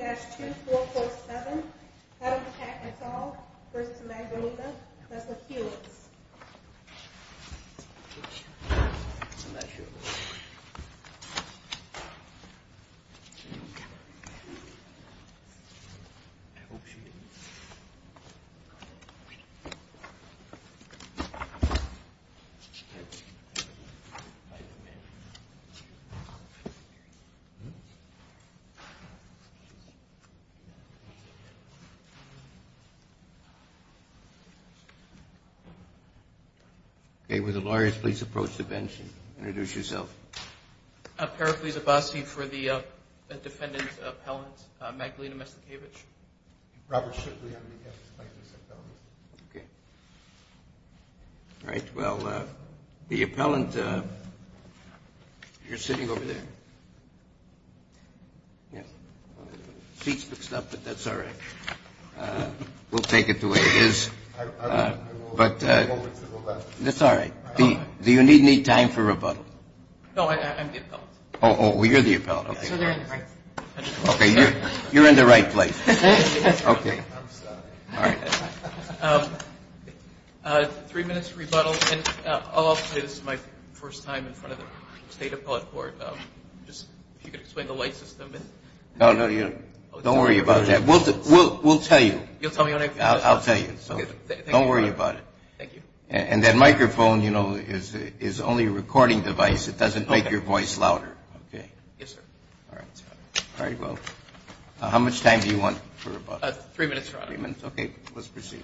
I'm not sure about this one. I hope she didn't... Hm? I don't know. Hm? Hm? Okay, will the lawyers please approach the bench and introduce yourself. Parapleza Basi for the defendant's appellant, Magdalena Maslikiewicz. Robert Shipley on behalf of the plaintiff's appellant. Okay. All right, well, the appellant... You're sitting over there. Yeah. Seat's fixed up, but that's all right. We'll take it the way it is. But... That's all right. Do you need any time for rebuttal? No, I'm the appellant. Oh, you're the appellant. Okay, you're in the right place. Okay. I'm sorry. All right. Three minutes for rebuttal. And I'll also say this is my first time in front of the State Appellate Court. Just if you could explain the light system. No, no, don't worry about that. We'll tell you. You'll tell me when I... I'll tell you. So don't worry about it. Thank you. And that microphone, you know, is only a recording device. It doesn't make your voice louder. Okay. Yes, sir. All right. All right, well, how much time do you want for rebuttal? Three minutes, Your Honor. Three minutes. Okay. Let's proceed.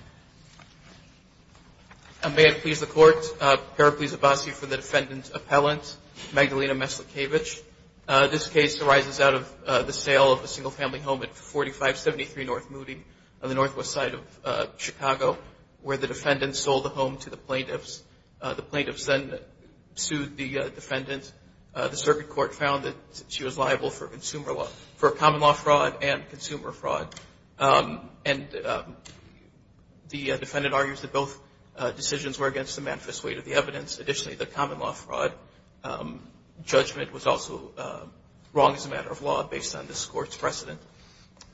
May it please the Court, I hereby please advise you for the defendant's appellant, Magdalena Meslakevich. This case arises out of the sale of a single-family home at 4573 North Moody on the northwest side of Chicago, where the defendant sold the home to the plaintiffs. The plaintiffs then sued the defendant. The circuit court found that she was liable for a common-law fraud and consumer fraud, and the defendant argues that both decisions were against the manifest weight of the evidence. Additionally, the common-law fraud judgment was also wrong as a matter of law, based on this Court's precedent.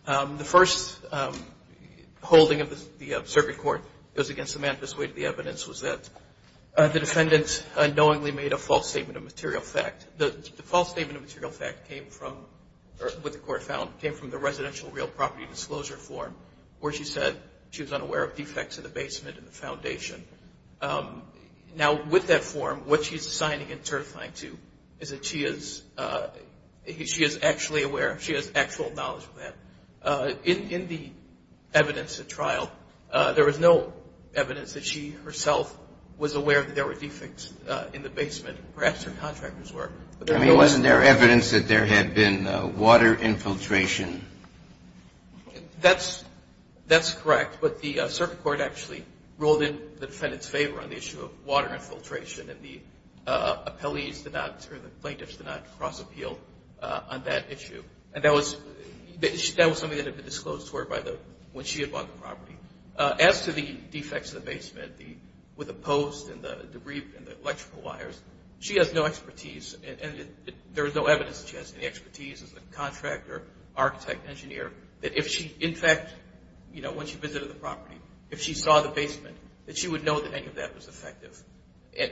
The first holding of the circuit court was against the manifest weight of the evidence, was that the defendant unknowingly made a false statement of material fact. The false statement of material fact came from the residential real property disclosure form, where she said she was unaware of defects in the basement and the foundation. Now, with that form, what she's assigning and certifying to is that she is actually aware, she has actual knowledge of that. In the evidence at trial, there was no evidence that she herself was aware that there were defects in the basement. Perhaps her contractors were. I mean, wasn't there evidence that there had been water infiltration? That's correct, but the circuit court actually ruled in the defendant's favor on the issue of water infiltration, and the plaintiffs did not cross-appeal on that issue. And that was something that had been disclosed to her when she had bought the property. As to the defects in the basement, with the posts and the debris and the electrical wires, she has no expertise, and there is no evidence that she has any expertise as a contractor, architect, engineer, that if she, in fact, you know, when she visited the property, if she saw the basement, that she would know that any of that was effective.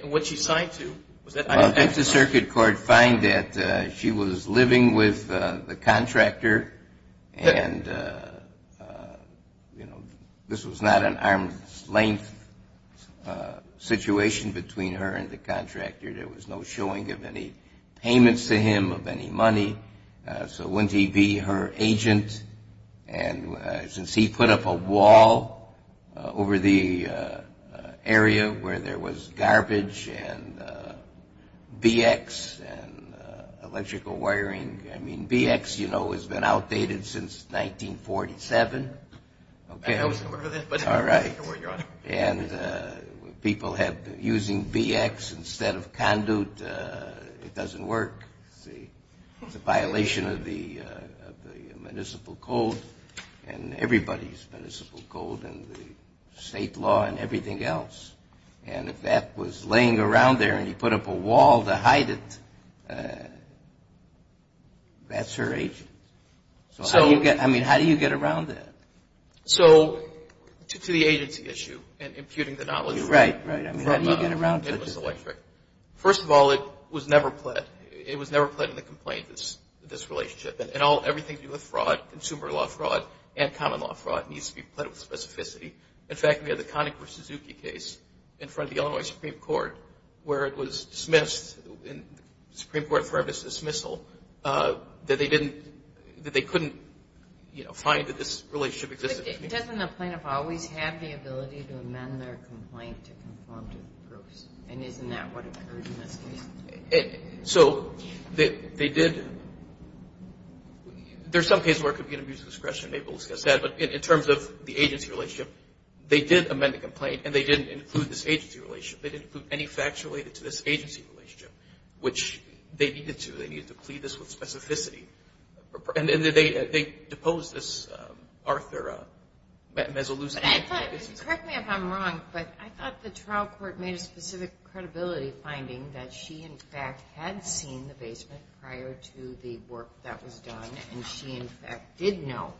What she signed to, was that? The circuit court found that she was living with the contractor, and, you know, this was not an arm's-length situation between her and the contractor. There was no showing of any payments to him of any money, so wouldn't he be her agent? And since he put up a wall over the area where there was garbage and VX and electrical wiring, I mean, VX, you know, has been outdated since 1947. I know it's a little bit, but I'll take it where you're on it. And people have been using VX instead of conduit. It doesn't work, see? It's a violation of the municipal code and everybody's municipal code and the state law and everything else. And if that was laying around there and he put up a wall to hide it, that's her agent. So, I mean, how do you get around that? So, to the agency issue and imputing the knowledge. Right, right. I mean, how do you get around that? First of all, it was never pled. It was never pled in the complaint, this relationship. And everything to do with fraud, consumer law fraud, and common law fraud, needs to be pled with specificity. In fact, we had the Conakry-Suzuki case in front of the Illinois Supreme Court, where it was dismissed in the Supreme Court for dismissal that they couldn't, you know, find that this relationship existed. Doesn't the plaintiff always have the ability to amend their complaint to conform to the proofs? And isn't that what occurred in this case? So, they did. There's some cases where it could be an abuse of discretion. Maybe we'll discuss that. But in terms of the agency relationship, they did amend the complaint and they didn't include this agency relationship. They didn't include any facts related to this agency relationship, which they needed to. They needed to plead this with specificity. And they deposed this Arthur Mazzaluzzi. But I thought, correct me if I'm wrong, but I thought the trial court made a specific credibility finding that she, in fact, had seen the basement prior to the work that was done, and she, in fact, did know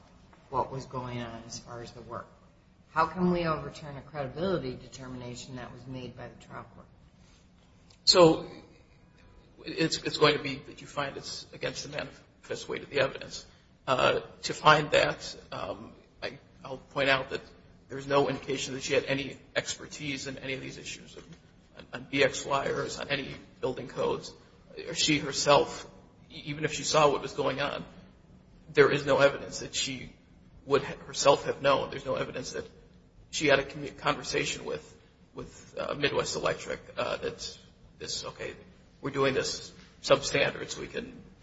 what was going on as far as the work. How can we overturn a credibility determination that was made by the trial court? So, it's going to be that you find it's against the manifest weight of the evidence. To find that, I'll point out that there's no indication that she had any expertise in any of these issues, on BX flyers, on any building codes. She herself, even if she saw what was going on, there is no evidence that she would herself have known. There's no evidence that she had a conversation with Midwest Electric that, okay, we're doing this substandard.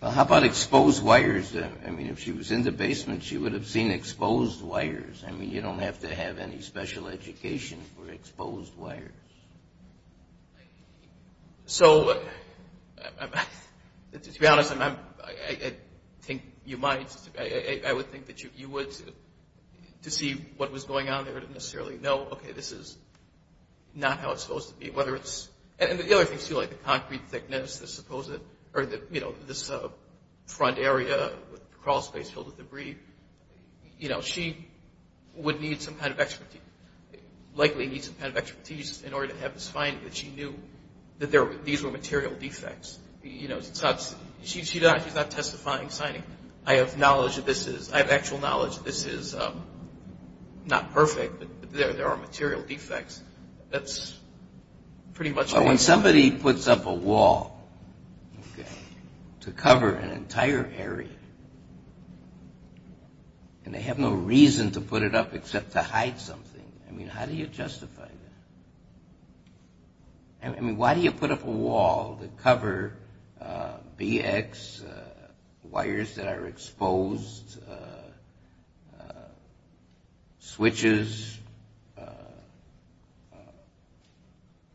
How about exposed wires? I mean, if she was in the basement, she would have seen exposed wires. I mean, you don't have to have any special education for exposed wires. So, to be honest, I think you might. I would think that you would, to see what was going on there, to necessarily know, okay, this is not how it's supposed to be. And the other thing, too, like the concrete thickness, this front area, the crawl space filled with debris. She would need some kind of expertise, likely need some kind of expertise, in order to have this finding that she knew that these were material defects. She's not testifying, signing. I have knowledge that this is, I have actual knowledge that this is not perfect, but there are material defects. That's pretty much it. But when somebody puts up a wall, okay, to cover an entire area, and they have no reason to put it up except to hide something, I mean, how do you justify that? I mean, why do you put up a wall to cover BX, wires that are exposed, switches,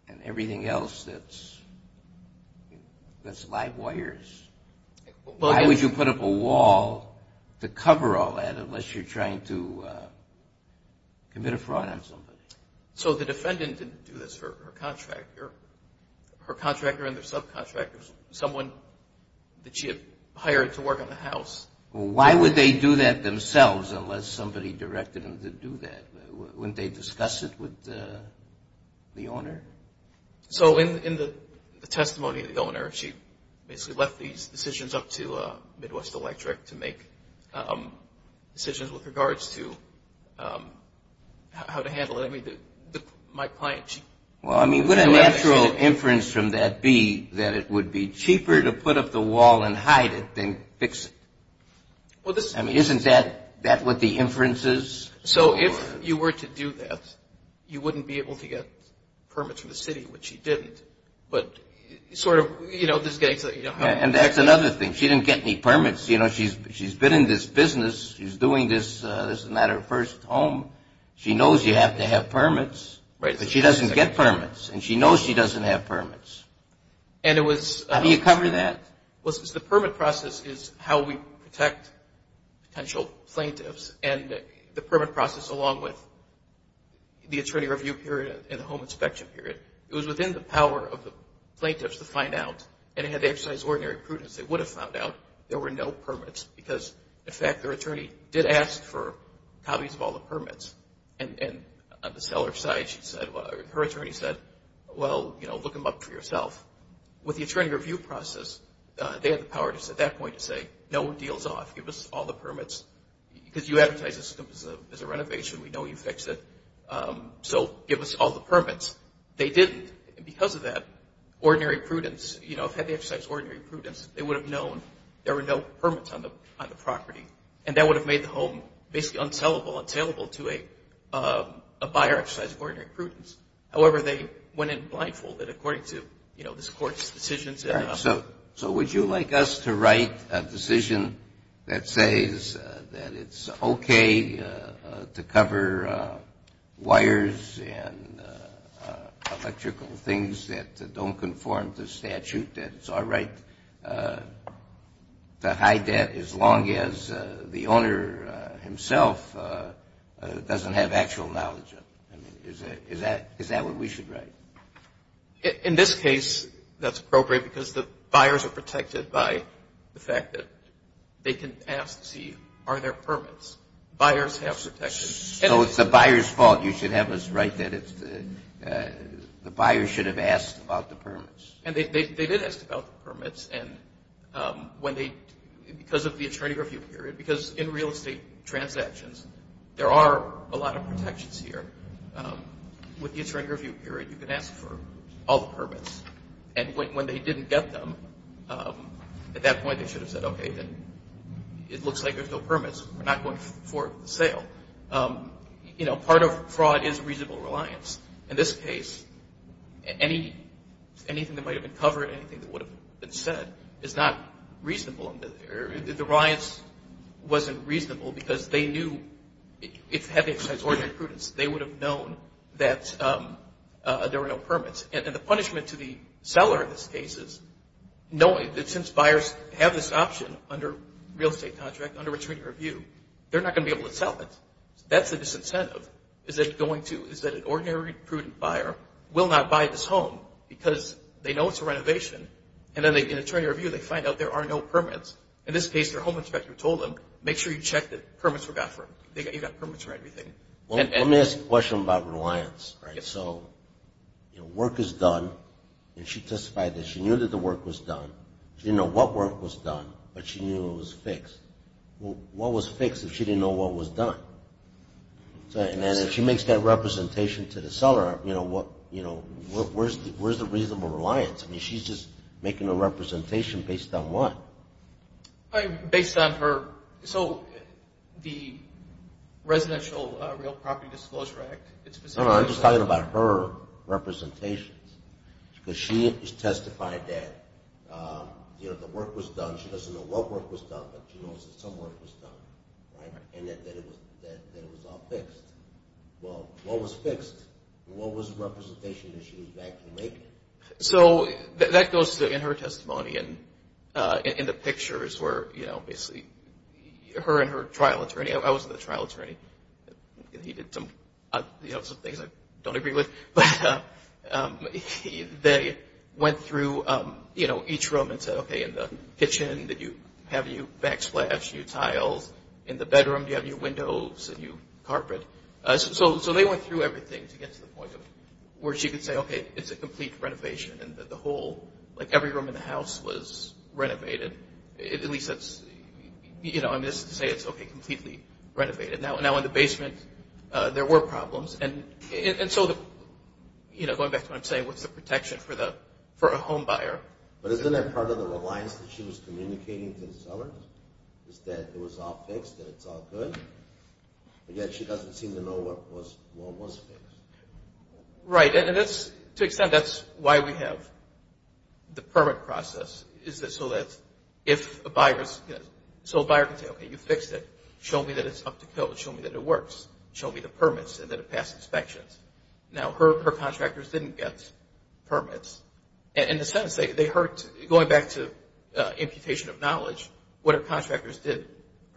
and everything else that's live wires? Why would you put up a wall to cover all that unless you're trying to commit a fraud on somebody? So the defendant didn't do this for her contractor. Her contractor and their subcontractor, someone that she had hired to work on the house. Well, why would they do that themselves unless somebody directed them to do that? Wouldn't they discuss it with the owner? So in the testimony of the owner, she basically left these decisions up to Midwest Electric to make decisions with regards to how to handle it. I mean, my client, she... Well, I mean, would a natural inference from that be that it would be cheaper to put up the wall and hide it than fix it? I mean, isn't that what the inference is? So if you were to do that, you wouldn't be able to get permits from the city, which she didn't. But sort of, you know, just getting to the, you know... And that's another thing. She didn't get any permits. You know, she's been in this business. She's doing this. This is not her first home. She knows you have to have permits, but she doesn't get permits, and she knows she doesn't have permits. And it was... How do you cover that? Well, since the permit process is how we protect potential plaintiffs, and the permit process along with the attorney review period and the home inspection period, it was within the power of the plaintiffs to find out. And if they had exercised ordinary prudence, they would have found out there were no permits, because, in fact, their attorney did ask for copies of all the permits. And on the seller's side, her attorney said, well, you know, look them up for yourself. With the attorney review process, they had the power at that point to say, no one deals off. Give us all the permits, because you advertised this as a renovation. We know you fixed it. So give us all the permits. They didn't. And because of that, ordinary prudence, you know, if they had exercised ordinary prudence, they would have known there were no permits on the property, and that would have made the home basically untellable to a buyer exercising ordinary prudence. However, they went in blindfolded according to this Court's decisions. So would you like us to write a decision that says that it's okay to cover wires and electrical things that don't conform to statute, that it's our right to hide that as long as the owner himself doesn't have actual knowledge of it? Is that what we should write? In this case, that's appropriate, because the buyers are protected by the fact that they can ask to see are there permits. Buyers have protections. So it's the buyer's fault. You should have us write that the buyer should have asked about the permits. And they did ask about the permits, because of the attorney review period. Because in real estate transactions, there are a lot of protections here. With the attorney review period, you can ask for all the permits. And when they didn't get them, at that point they should have said, okay, then it looks like there's no permits. We're not going forward with the sale. You know, part of fraud is reasonable reliance. In this case, anything that might have been covered, anything that would have been said, is not reasonable. The reliance wasn't reasonable because they knew it's having to exercise ordinary prudence. They would have known that there were no permits. And the punishment to the seller in this case is knowing that since buyers have this option under real estate contract, under attorney review, they're not going to be able to sell it. That's a disincentive is that an ordinary prudent buyer will not buy this home because they know it's a renovation. And then in attorney review, they find out there are no permits. In this case, their home inspector told them, make sure you check that you've got permits for everything. Let me ask a question about reliance. So work is done, and she testified that she knew that the work was done. She didn't know what work was done, but she knew it was fixed. What was fixed if she didn't know what was done? And if she makes that representation to the seller, where's the reasonable reliance? I mean, she's just making a representation based on what? Based on her. So the Residential Real Property Disclosure Act. I'm just talking about her representations because she testified that the work was done. She doesn't know what work was done, but she knows that some work was done and that it was all fixed. Well, what was fixed? What was the representation that she was actually making? So that goes in her testimony and in the pictures where, you know, basically her and her trial attorney. I wasn't the trial attorney. He did some things I don't agree with. But they went through, you know, each room and said, okay, in the kitchen, did you have new backsplash, new tiles? In the bedroom, do you have new windows, a new carpet? So they went through everything to get to the point where she could say, okay, it's a complete renovation. And the whole, like every room in the house was renovated. At least that's, you know, I'm just saying it's okay, completely renovated. Now in the basement, there were problems. And so, you know, going back to what I'm saying, what's the protection for a home buyer? But isn't that part of the reliance that she was communicating to the seller is that it was all fixed and it's all good? Yet she doesn't seem to know what was fixed. Right. And to an extent, that's why we have the permit process is that so that if a buyer can say, okay, you fixed it. Show me that it's up to code. Show me that it works. Show me the permits and that it passed inspections. Now her contractors didn't get permits. In a sense, they heard, going back to imputation of knowledge, what her contractors did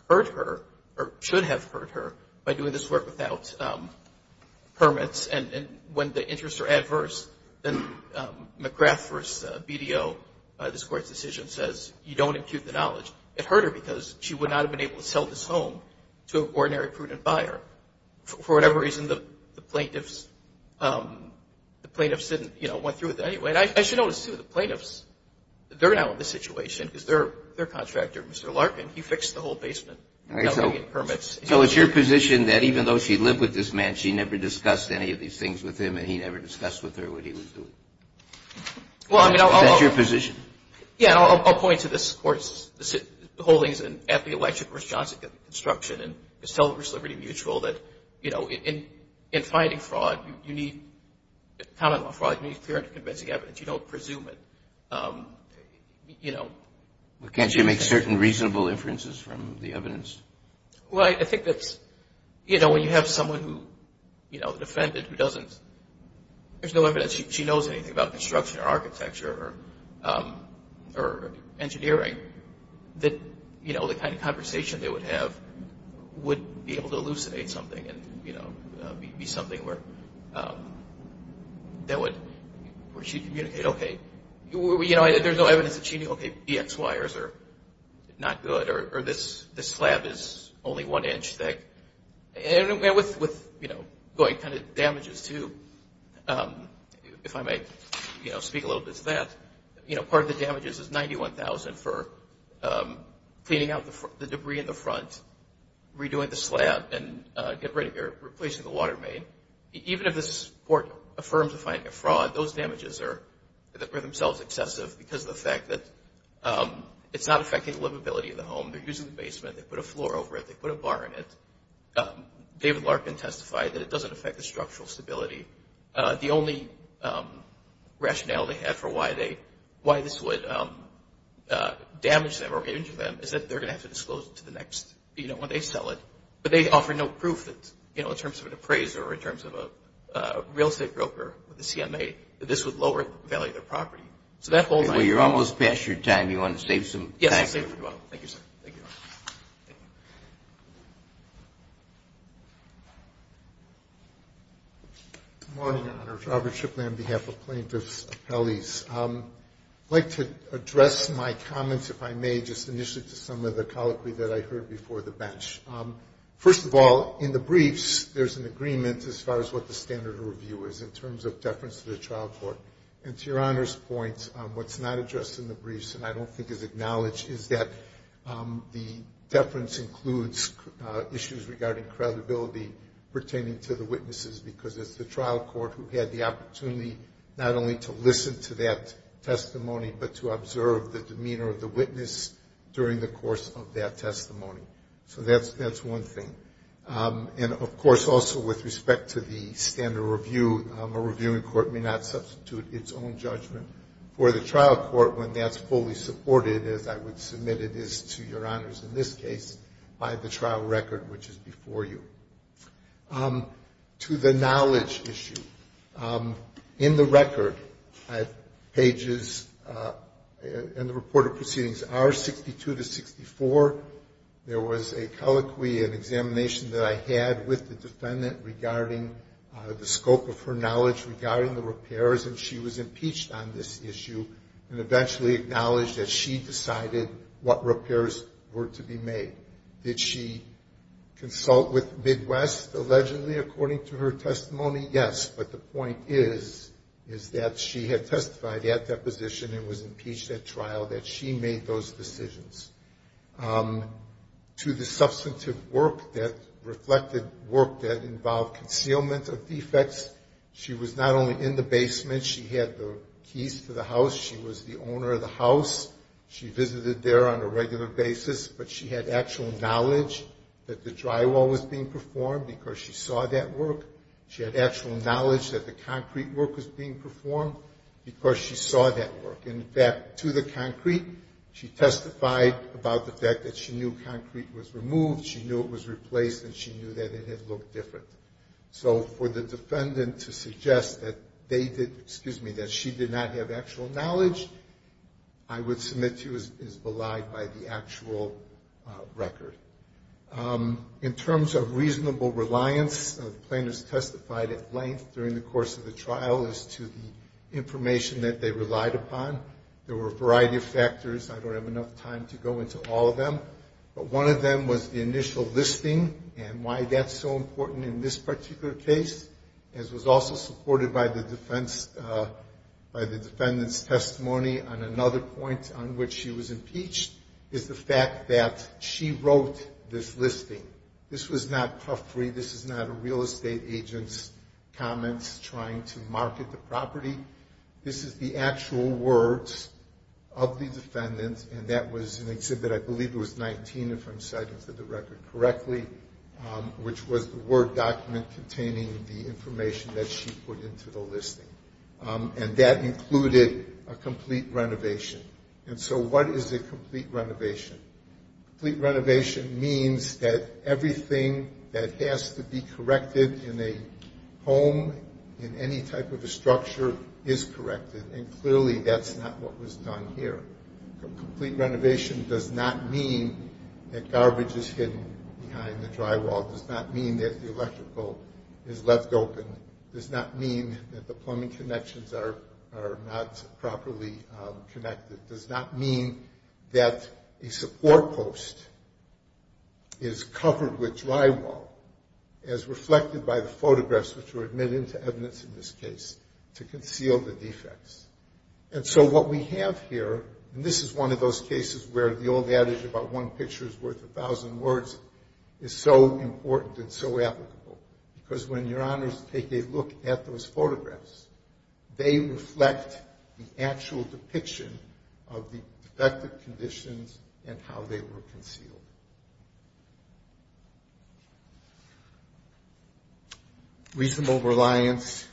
hurt her or should have hurt her by doing this work without permits. And when the interests are adverse, then McGrath v. BDO, this Court's decision, says you don't impute the knowledge. It hurt her because she would not have been able to sell this home to an ordinary prudent buyer. For whatever reason, the plaintiffs didn't, you know, went through with it anyway. And I should note, too, the plaintiffs, they're now in this situation because their contractor, Mr. Larkin, he fixed the whole basement without getting permits. So it's your position that even though she lived with this man, she never discussed any of these things with him and he never discussed with her what he was doing? Is that your position? Yeah. I'll point to this Court's holdings at the Electric vs. Johnson Construction and Miss Tiller v. Liberty Mutual that, you know, in fighting fraud, you need clear and convincing evidence. You don't presume it, you know. Well, can't she make certain reasonable inferences from the evidence? Well, I think that's, you know, when you have someone who, you know, defended who doesn't, there's no evidence she knows anything about construction or architecture or engineering, that, you know, the kind of conversation they would have would be able to elucidate something and, you know, be something where that would, where she'd communicate, okay, you know, there's no evidence that she knew, okay, BX wires are not good or this slab is only one inch thick. And with, you know, going kind of damages too, if I may, you know, speak a little bit to that, you know, part of the damages is $91,000 for cleaning out the debris in the front, redoing the slab, and replacing the water main. Even if the court affirms a finding of fraud, those damages are themselves excessive because of the fact that it's not affecting livability of the home. They're using the basement. They put a floor over it. They put a bar in it. David Larkin testified that it doesn't affect the structural stability. The only rationale they had for why this would damage them or injure them is that they're going to have to disclose it to the next, you know, when they sell it. But they offer no proof that, you know, in terms of an appraiser or in terms of a real estate broker with a CMA, that this would lower the value of their property. So that holds. Well, you're almost past your time. Do you want to save some time? Yes, I'll save it for tomorrow. Thank you, sir. Thank you. Good morning, Your Honor. Robert Chipman on behalf of plaintiffs' appellees. I'd like to address my comments, if I may, just initially to some of the colloquy that I heard before the bench. First of all, in the briefs, there's an agreement as far as what the standard of review is in terms of deference to the trial court. And to Your Honor's point, what's not addressed in the briefs, and I don't think is acknowledged, is that the deference includes issues regarding credibility pertaining to the witnesses, because it's the trial court who had the opportunity not only to listen to that testimony, but to observe the demeanor of the witness during the course of that testimony. So that's one thing. And, of course, also with respect to the standard of review, a reviewing court may not substitute its own judgment for the trial court when that's fully supported, as I would submit it is to Your Honors in this case, by the trial record, which is before you. To the knowledge issue. In the record, pages in the report of proceedings are 62 to 64. There was a colloquy, an examination that I had with the defendant regarding the scope of her knowledge regarding the repairs, and she was impeached on this issue and eventually acknowledged that she decided what repairs were to be made. Did she consult with Midwest, allegedly, according to her testimony? Yes. But the point is, is that she had testified at that position and was impeached at trial, that she made those decisions. To the substantive work that reflected work that involved concealment of defects, she was not only in the basement, she had the keys to the house, she was the owner of the house, she visited there on a regular basis, but she had actual knowledge that the drywall was being performed because she saw that work. She had actual knowledge that the concrete work was being performed because she saw that work. And, in fact, to the concrete, she testified about the fact that she knew concrete was removed, she knew it was replaced, and she knew that it had looked different. So for the defendant to suggest that they did, excuse me, that she did not have actual knowledge, I would submit to you as belied by the actual record. In terms of reasonable reliance, the plaintiffs testified at length during the course of the trial as to the information that they relied upon. There were a variety of factors. I don't have enough time to go into all of them. But one of them was the initial listing and why that's so important in this particular case, as was also supported by the defendant's testimony on another point on which she was impeached, is the fact that she wrote this listing. This was not puffery. This is not a real estate agent's comments trying to market the property. This is the actual words of the defendant, and that was an exhibit, I believe it was 19 if I'm citing the record correctly, which was the Word document containing the information that she put into the listing. And that included a complete renovation. And so what is a complete renovation? Complete renovation means that everything that has to be corrected in a home, in any type of a structure, is corrected. And clearly that's not what was done here. A complete renovation does not mean that garbage is hidden behind the drywall. It does not mean that the electrical is left open. It does not mean that the plumbing connections are not properly connected. It does not mean that a support post is covered with drywall, as reflected by the photographs, which were admitted into evidence in this case, to conceal the defects. And so what we have here, and this is one of those cases where the old adage about one picture is worth a thousand words, is so important and so applicable, because when your honors take a look at those photographs, they reflect the actual depiction of the defective conditions and how they were concealed. Reasonable reliance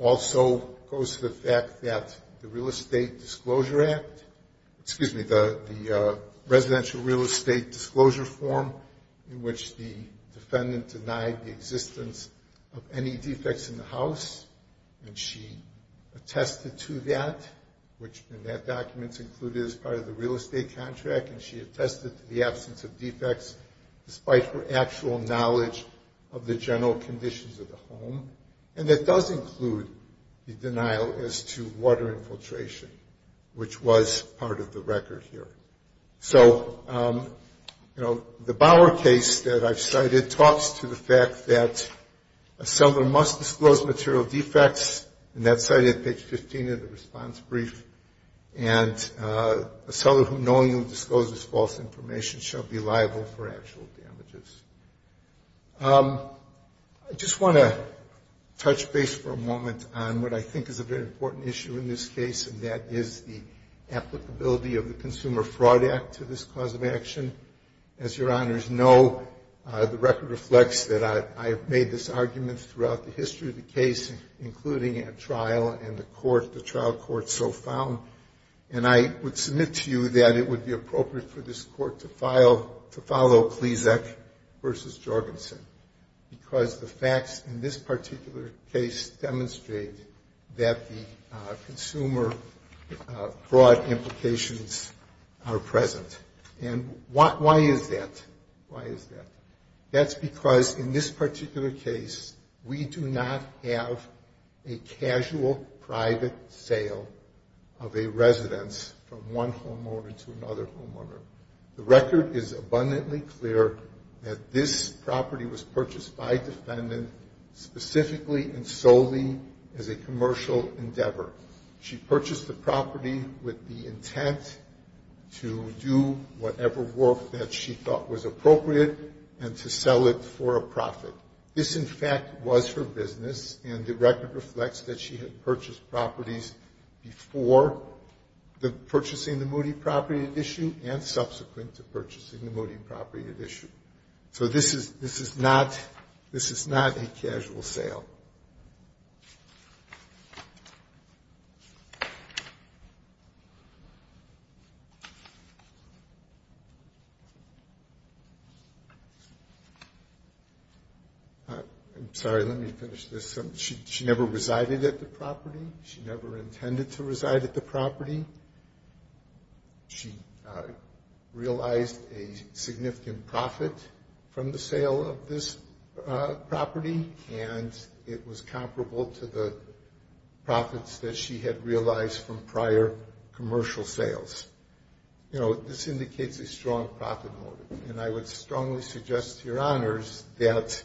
also goes to the fact that the Real Estate Disclosure Act, excuse me, the Residential Real Estate Disclosure Form, in which the defendant denied the existence of any defects in the house, and she attested to that, which in that document is included as part of the real estate contract, and she attested to the absence of defects, despite her actual knowledge of the general conditions of the home. And it does include the denial as to water infiltration, which was part of the record here. So, you know, the Bower case that I've cited talks to the fact that a seller must disclose material defects, and that's cited at page 15 of the response brief, and a seller who knowingly discloses false information shall be liable for actual damages. I just want to touch base for a moment on what I think is a very important issue in this case, and that is the applicability of the Consumer Fraud Act to this cause of action. As your honors know, the record reflects that I have made this argument throughout the history of the case, including at trial and the trial court so found, and I would submit to you that it would be appropriate for this court to follow Pleszek v. Jorgensen, because the facts in this particular case demonstrate that the consumer fraud implications are present. And why is that? Why is that? That's because in this particular case, we do not have a casual private sale of a residence from one homeowner to another homeowner. The record is abundantly clear that this property was purchased by a defendant specifically and solely as a commercial endeavor. She purchased the property with the intent to do whatever work that she thought was appropriate and to sell it for a profit. This, in fact, was her business, and the record reflects that she had purchased properties before purchasing the Moody property at issue and subsequent to purchasing the Moody property at issue. So this is not a casual sale. I'm sorry. Let me finish this. She never resided at the property. She never intended to reside at the property. She realized a significant profit from the sale of this property, and it was comparable to the profits that she had realized from prior commercial sales. You know, this indicates a strong profit motive, and I would strongly suggest to your honors that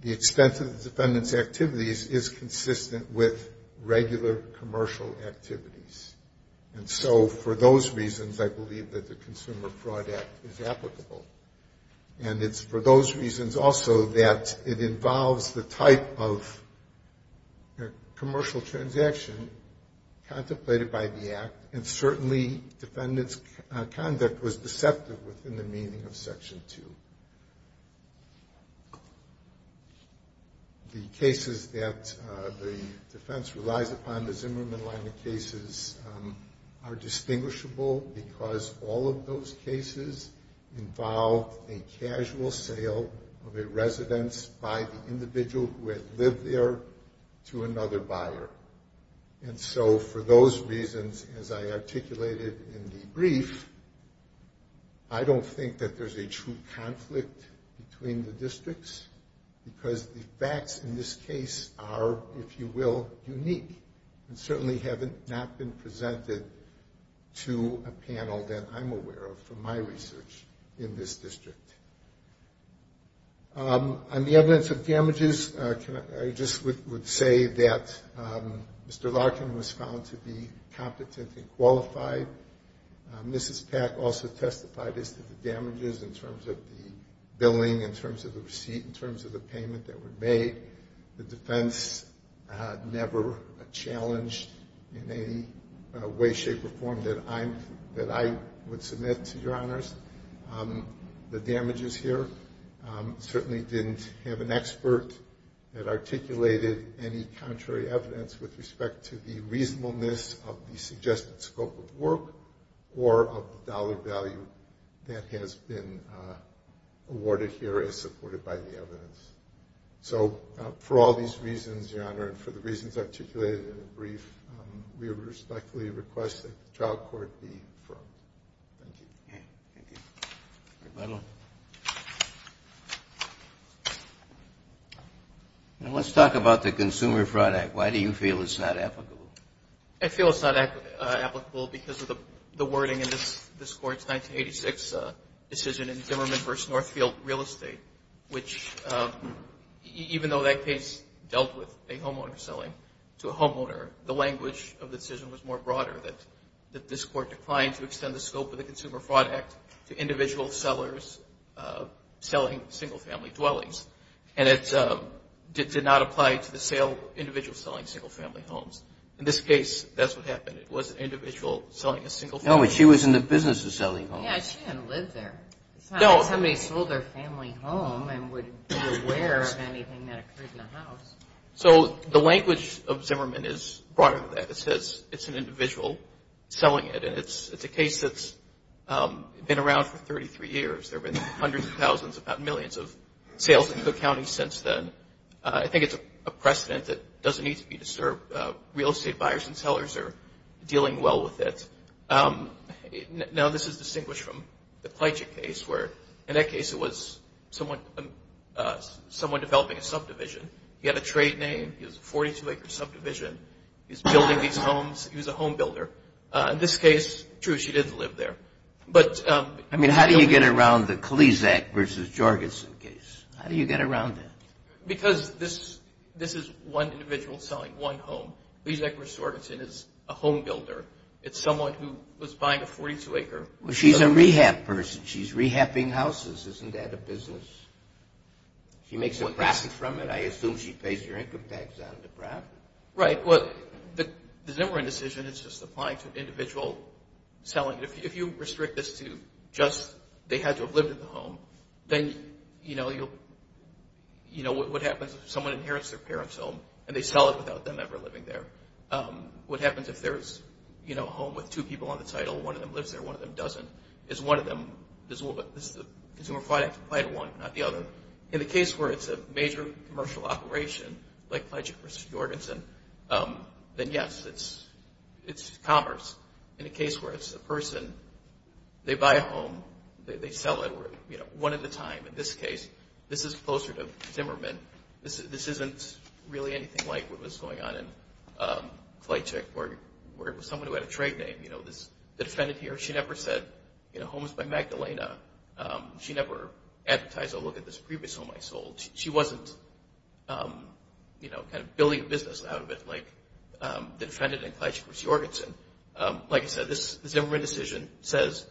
the expense of the defendant's activities is consistent with regular commercial activities. And so for those reasons, I believe that the Consumer Fraud Act is applicable. And it's for those reasons also that it involves the type of commercial transaction contemplated by the Act, and certainly defendant's conduct was deceptive within the meaning of Section 2. The cases that the defense relies upon, the Zimmerman-Lyman cases, are distinguishable because all of those cases involve a casual sale of a residence by the individual who had lived there to another buyer. And so for those reasons, as I articulated in the brief, I don't think that there's a true conflict between the districts because the facts in this case are, if you will, unique and certainly have not been presented to a panel that I'm aware of from my research in this district. On the evidence of damages, I just would say that Mr. Larkin was found to be competent and qualified. Mrs. Pack also testified as to the damages in terms of the billing, in terms of the receipt, in terms of the payment that were made. The defense never challenged in any way, shape, or form that I would submit to your honors the damages here. Certainly didn't have an expert that articulated any contrary evidence with respect to the reasonableness of the suggested scope of work or of the dollar value that has been awarded here as supported by the evidence. So for all these reasons, your honor, and for the reasons articulated in the brief, we respectfully request that the trial court be affirmed. Thank you. Thank you. Thank you. And let's talk about the Consumer Fraud Act. Why do you feel it's not applicable? I feel it's not applicable because of the wording in this Court's 1986 decision in Zimmerman v. Northfield Real Estate, which even though that case dealt with a homeowner selling to a homeowner, the language of the decision was more broader, that this Court declined to extend the scope of the Consumer Fraud Act to individual sellers selling single-family dwellings, and it did not apply to the individual selling single-family homes. In this case, that's what happened. It was an individual selling a single-family home. No, but she was in the business of selling homes. Yeah, she didn't live there. It's not like somebody sold their family home and would be aware of anything that occurred in the house. So the language of Zimmerman is broader than that. It says it's an individual selling it, and it's a case that's been around for 33 years. There have been hundreds of thousands, about millions of sales in Cook County since then. I think it's a precedent that doesn't need to be disturbed. Real estate buyers and sellers are dealing well with it. Now, this is distinguished from the Klejic case where, in that case, it was someone developing a subdivision. He had a trade name. He was a 42-acre subdivision. He was building these homes. He was a home builder. In this case, true, she did live there. I mean, how do you get around the Klejic v. Jorgensen case? How do you get around that? Because this is one individual selling one home. Klejic v. Jorgensen is a home builder. It's someone who was buying a 42-acre building. She's a rehab person. She's rehabbing houses. Isn't that a business? She makes a profit from it. I assume she pays your income tax on the profit. Right. The Zimmerman decision is just applying to individual selling. If you restrict this to just they had to have lived in the home, then, you know, what happens if someone inherits their parent's home and they sell it without them ever living there? What happens if there's a home with two people on the title, one of them lives there, one of them doesn't? Is one of them the consumer product applied to one, not the other? In the case where it's a major commercial operation, like Klejic v. Jorgensen, then, yes, it's commerce. In a case where it's a person, they buy a home, they sell it one at a time. In this case, this is closer to Zimmerman. This isn't really anything like what was going on in Klejic where it was someone who had a trade name, you know, the defendant here. She never said, you know, home is by Magdalena. She never advertised a look at this previous home I sold. She wasn't, you know, kind of building a business out of it like the defendant in Klejic v. Jorgensen. Like I said, this Zimmerman decision says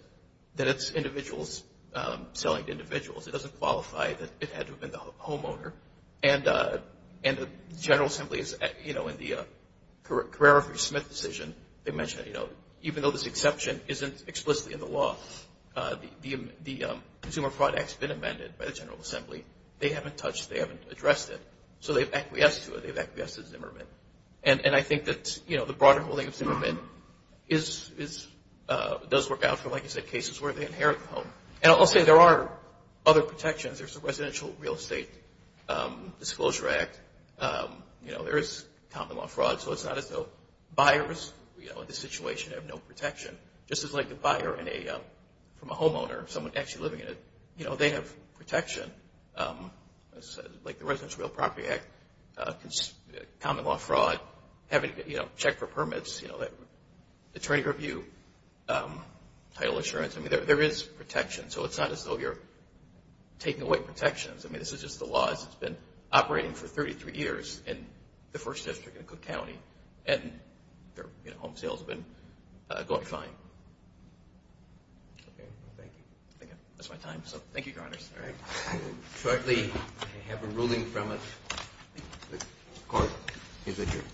that it's individuals selling to individuals. It doesn't qualify that it had to have been the homeowner. And the General Assembly, you know, in the Carrera v. Smith decision, they mentioned, you know, even though this exception isn't explicitly in the law, the consumer product's been amended by the General Assembly. They haven't touched it. They haven't addressed it. So they've acquiesced to it. They've acquiesced to Zimmerman. And I think that, you know, the broader holding of Zimmerman does work out for, like I said, cases where they inherit the home. And I'll say there are other protections. There's the Residential Real Estate Disclosure Act. You know, there is common law fraud, so it's not as though buyers, you know, in this situation have no protection. Just as like the buyer from a homeowner, someone actually living in it, you know, they have protection, like the Residential Real Property Act, common law fraud, having to, you know, check for permits, you know, attorney review, title assurance. I mean, there is protection. So it's not as though you're taking away protections. I mean, this is just the law. It's been operating for 33 years in the first district in Cook County, and their home sales have been going fine. Thank you. I think that's my time. So thank you, Your Honors. All right. I will shortly have a ruling from it. The Court is adjourned.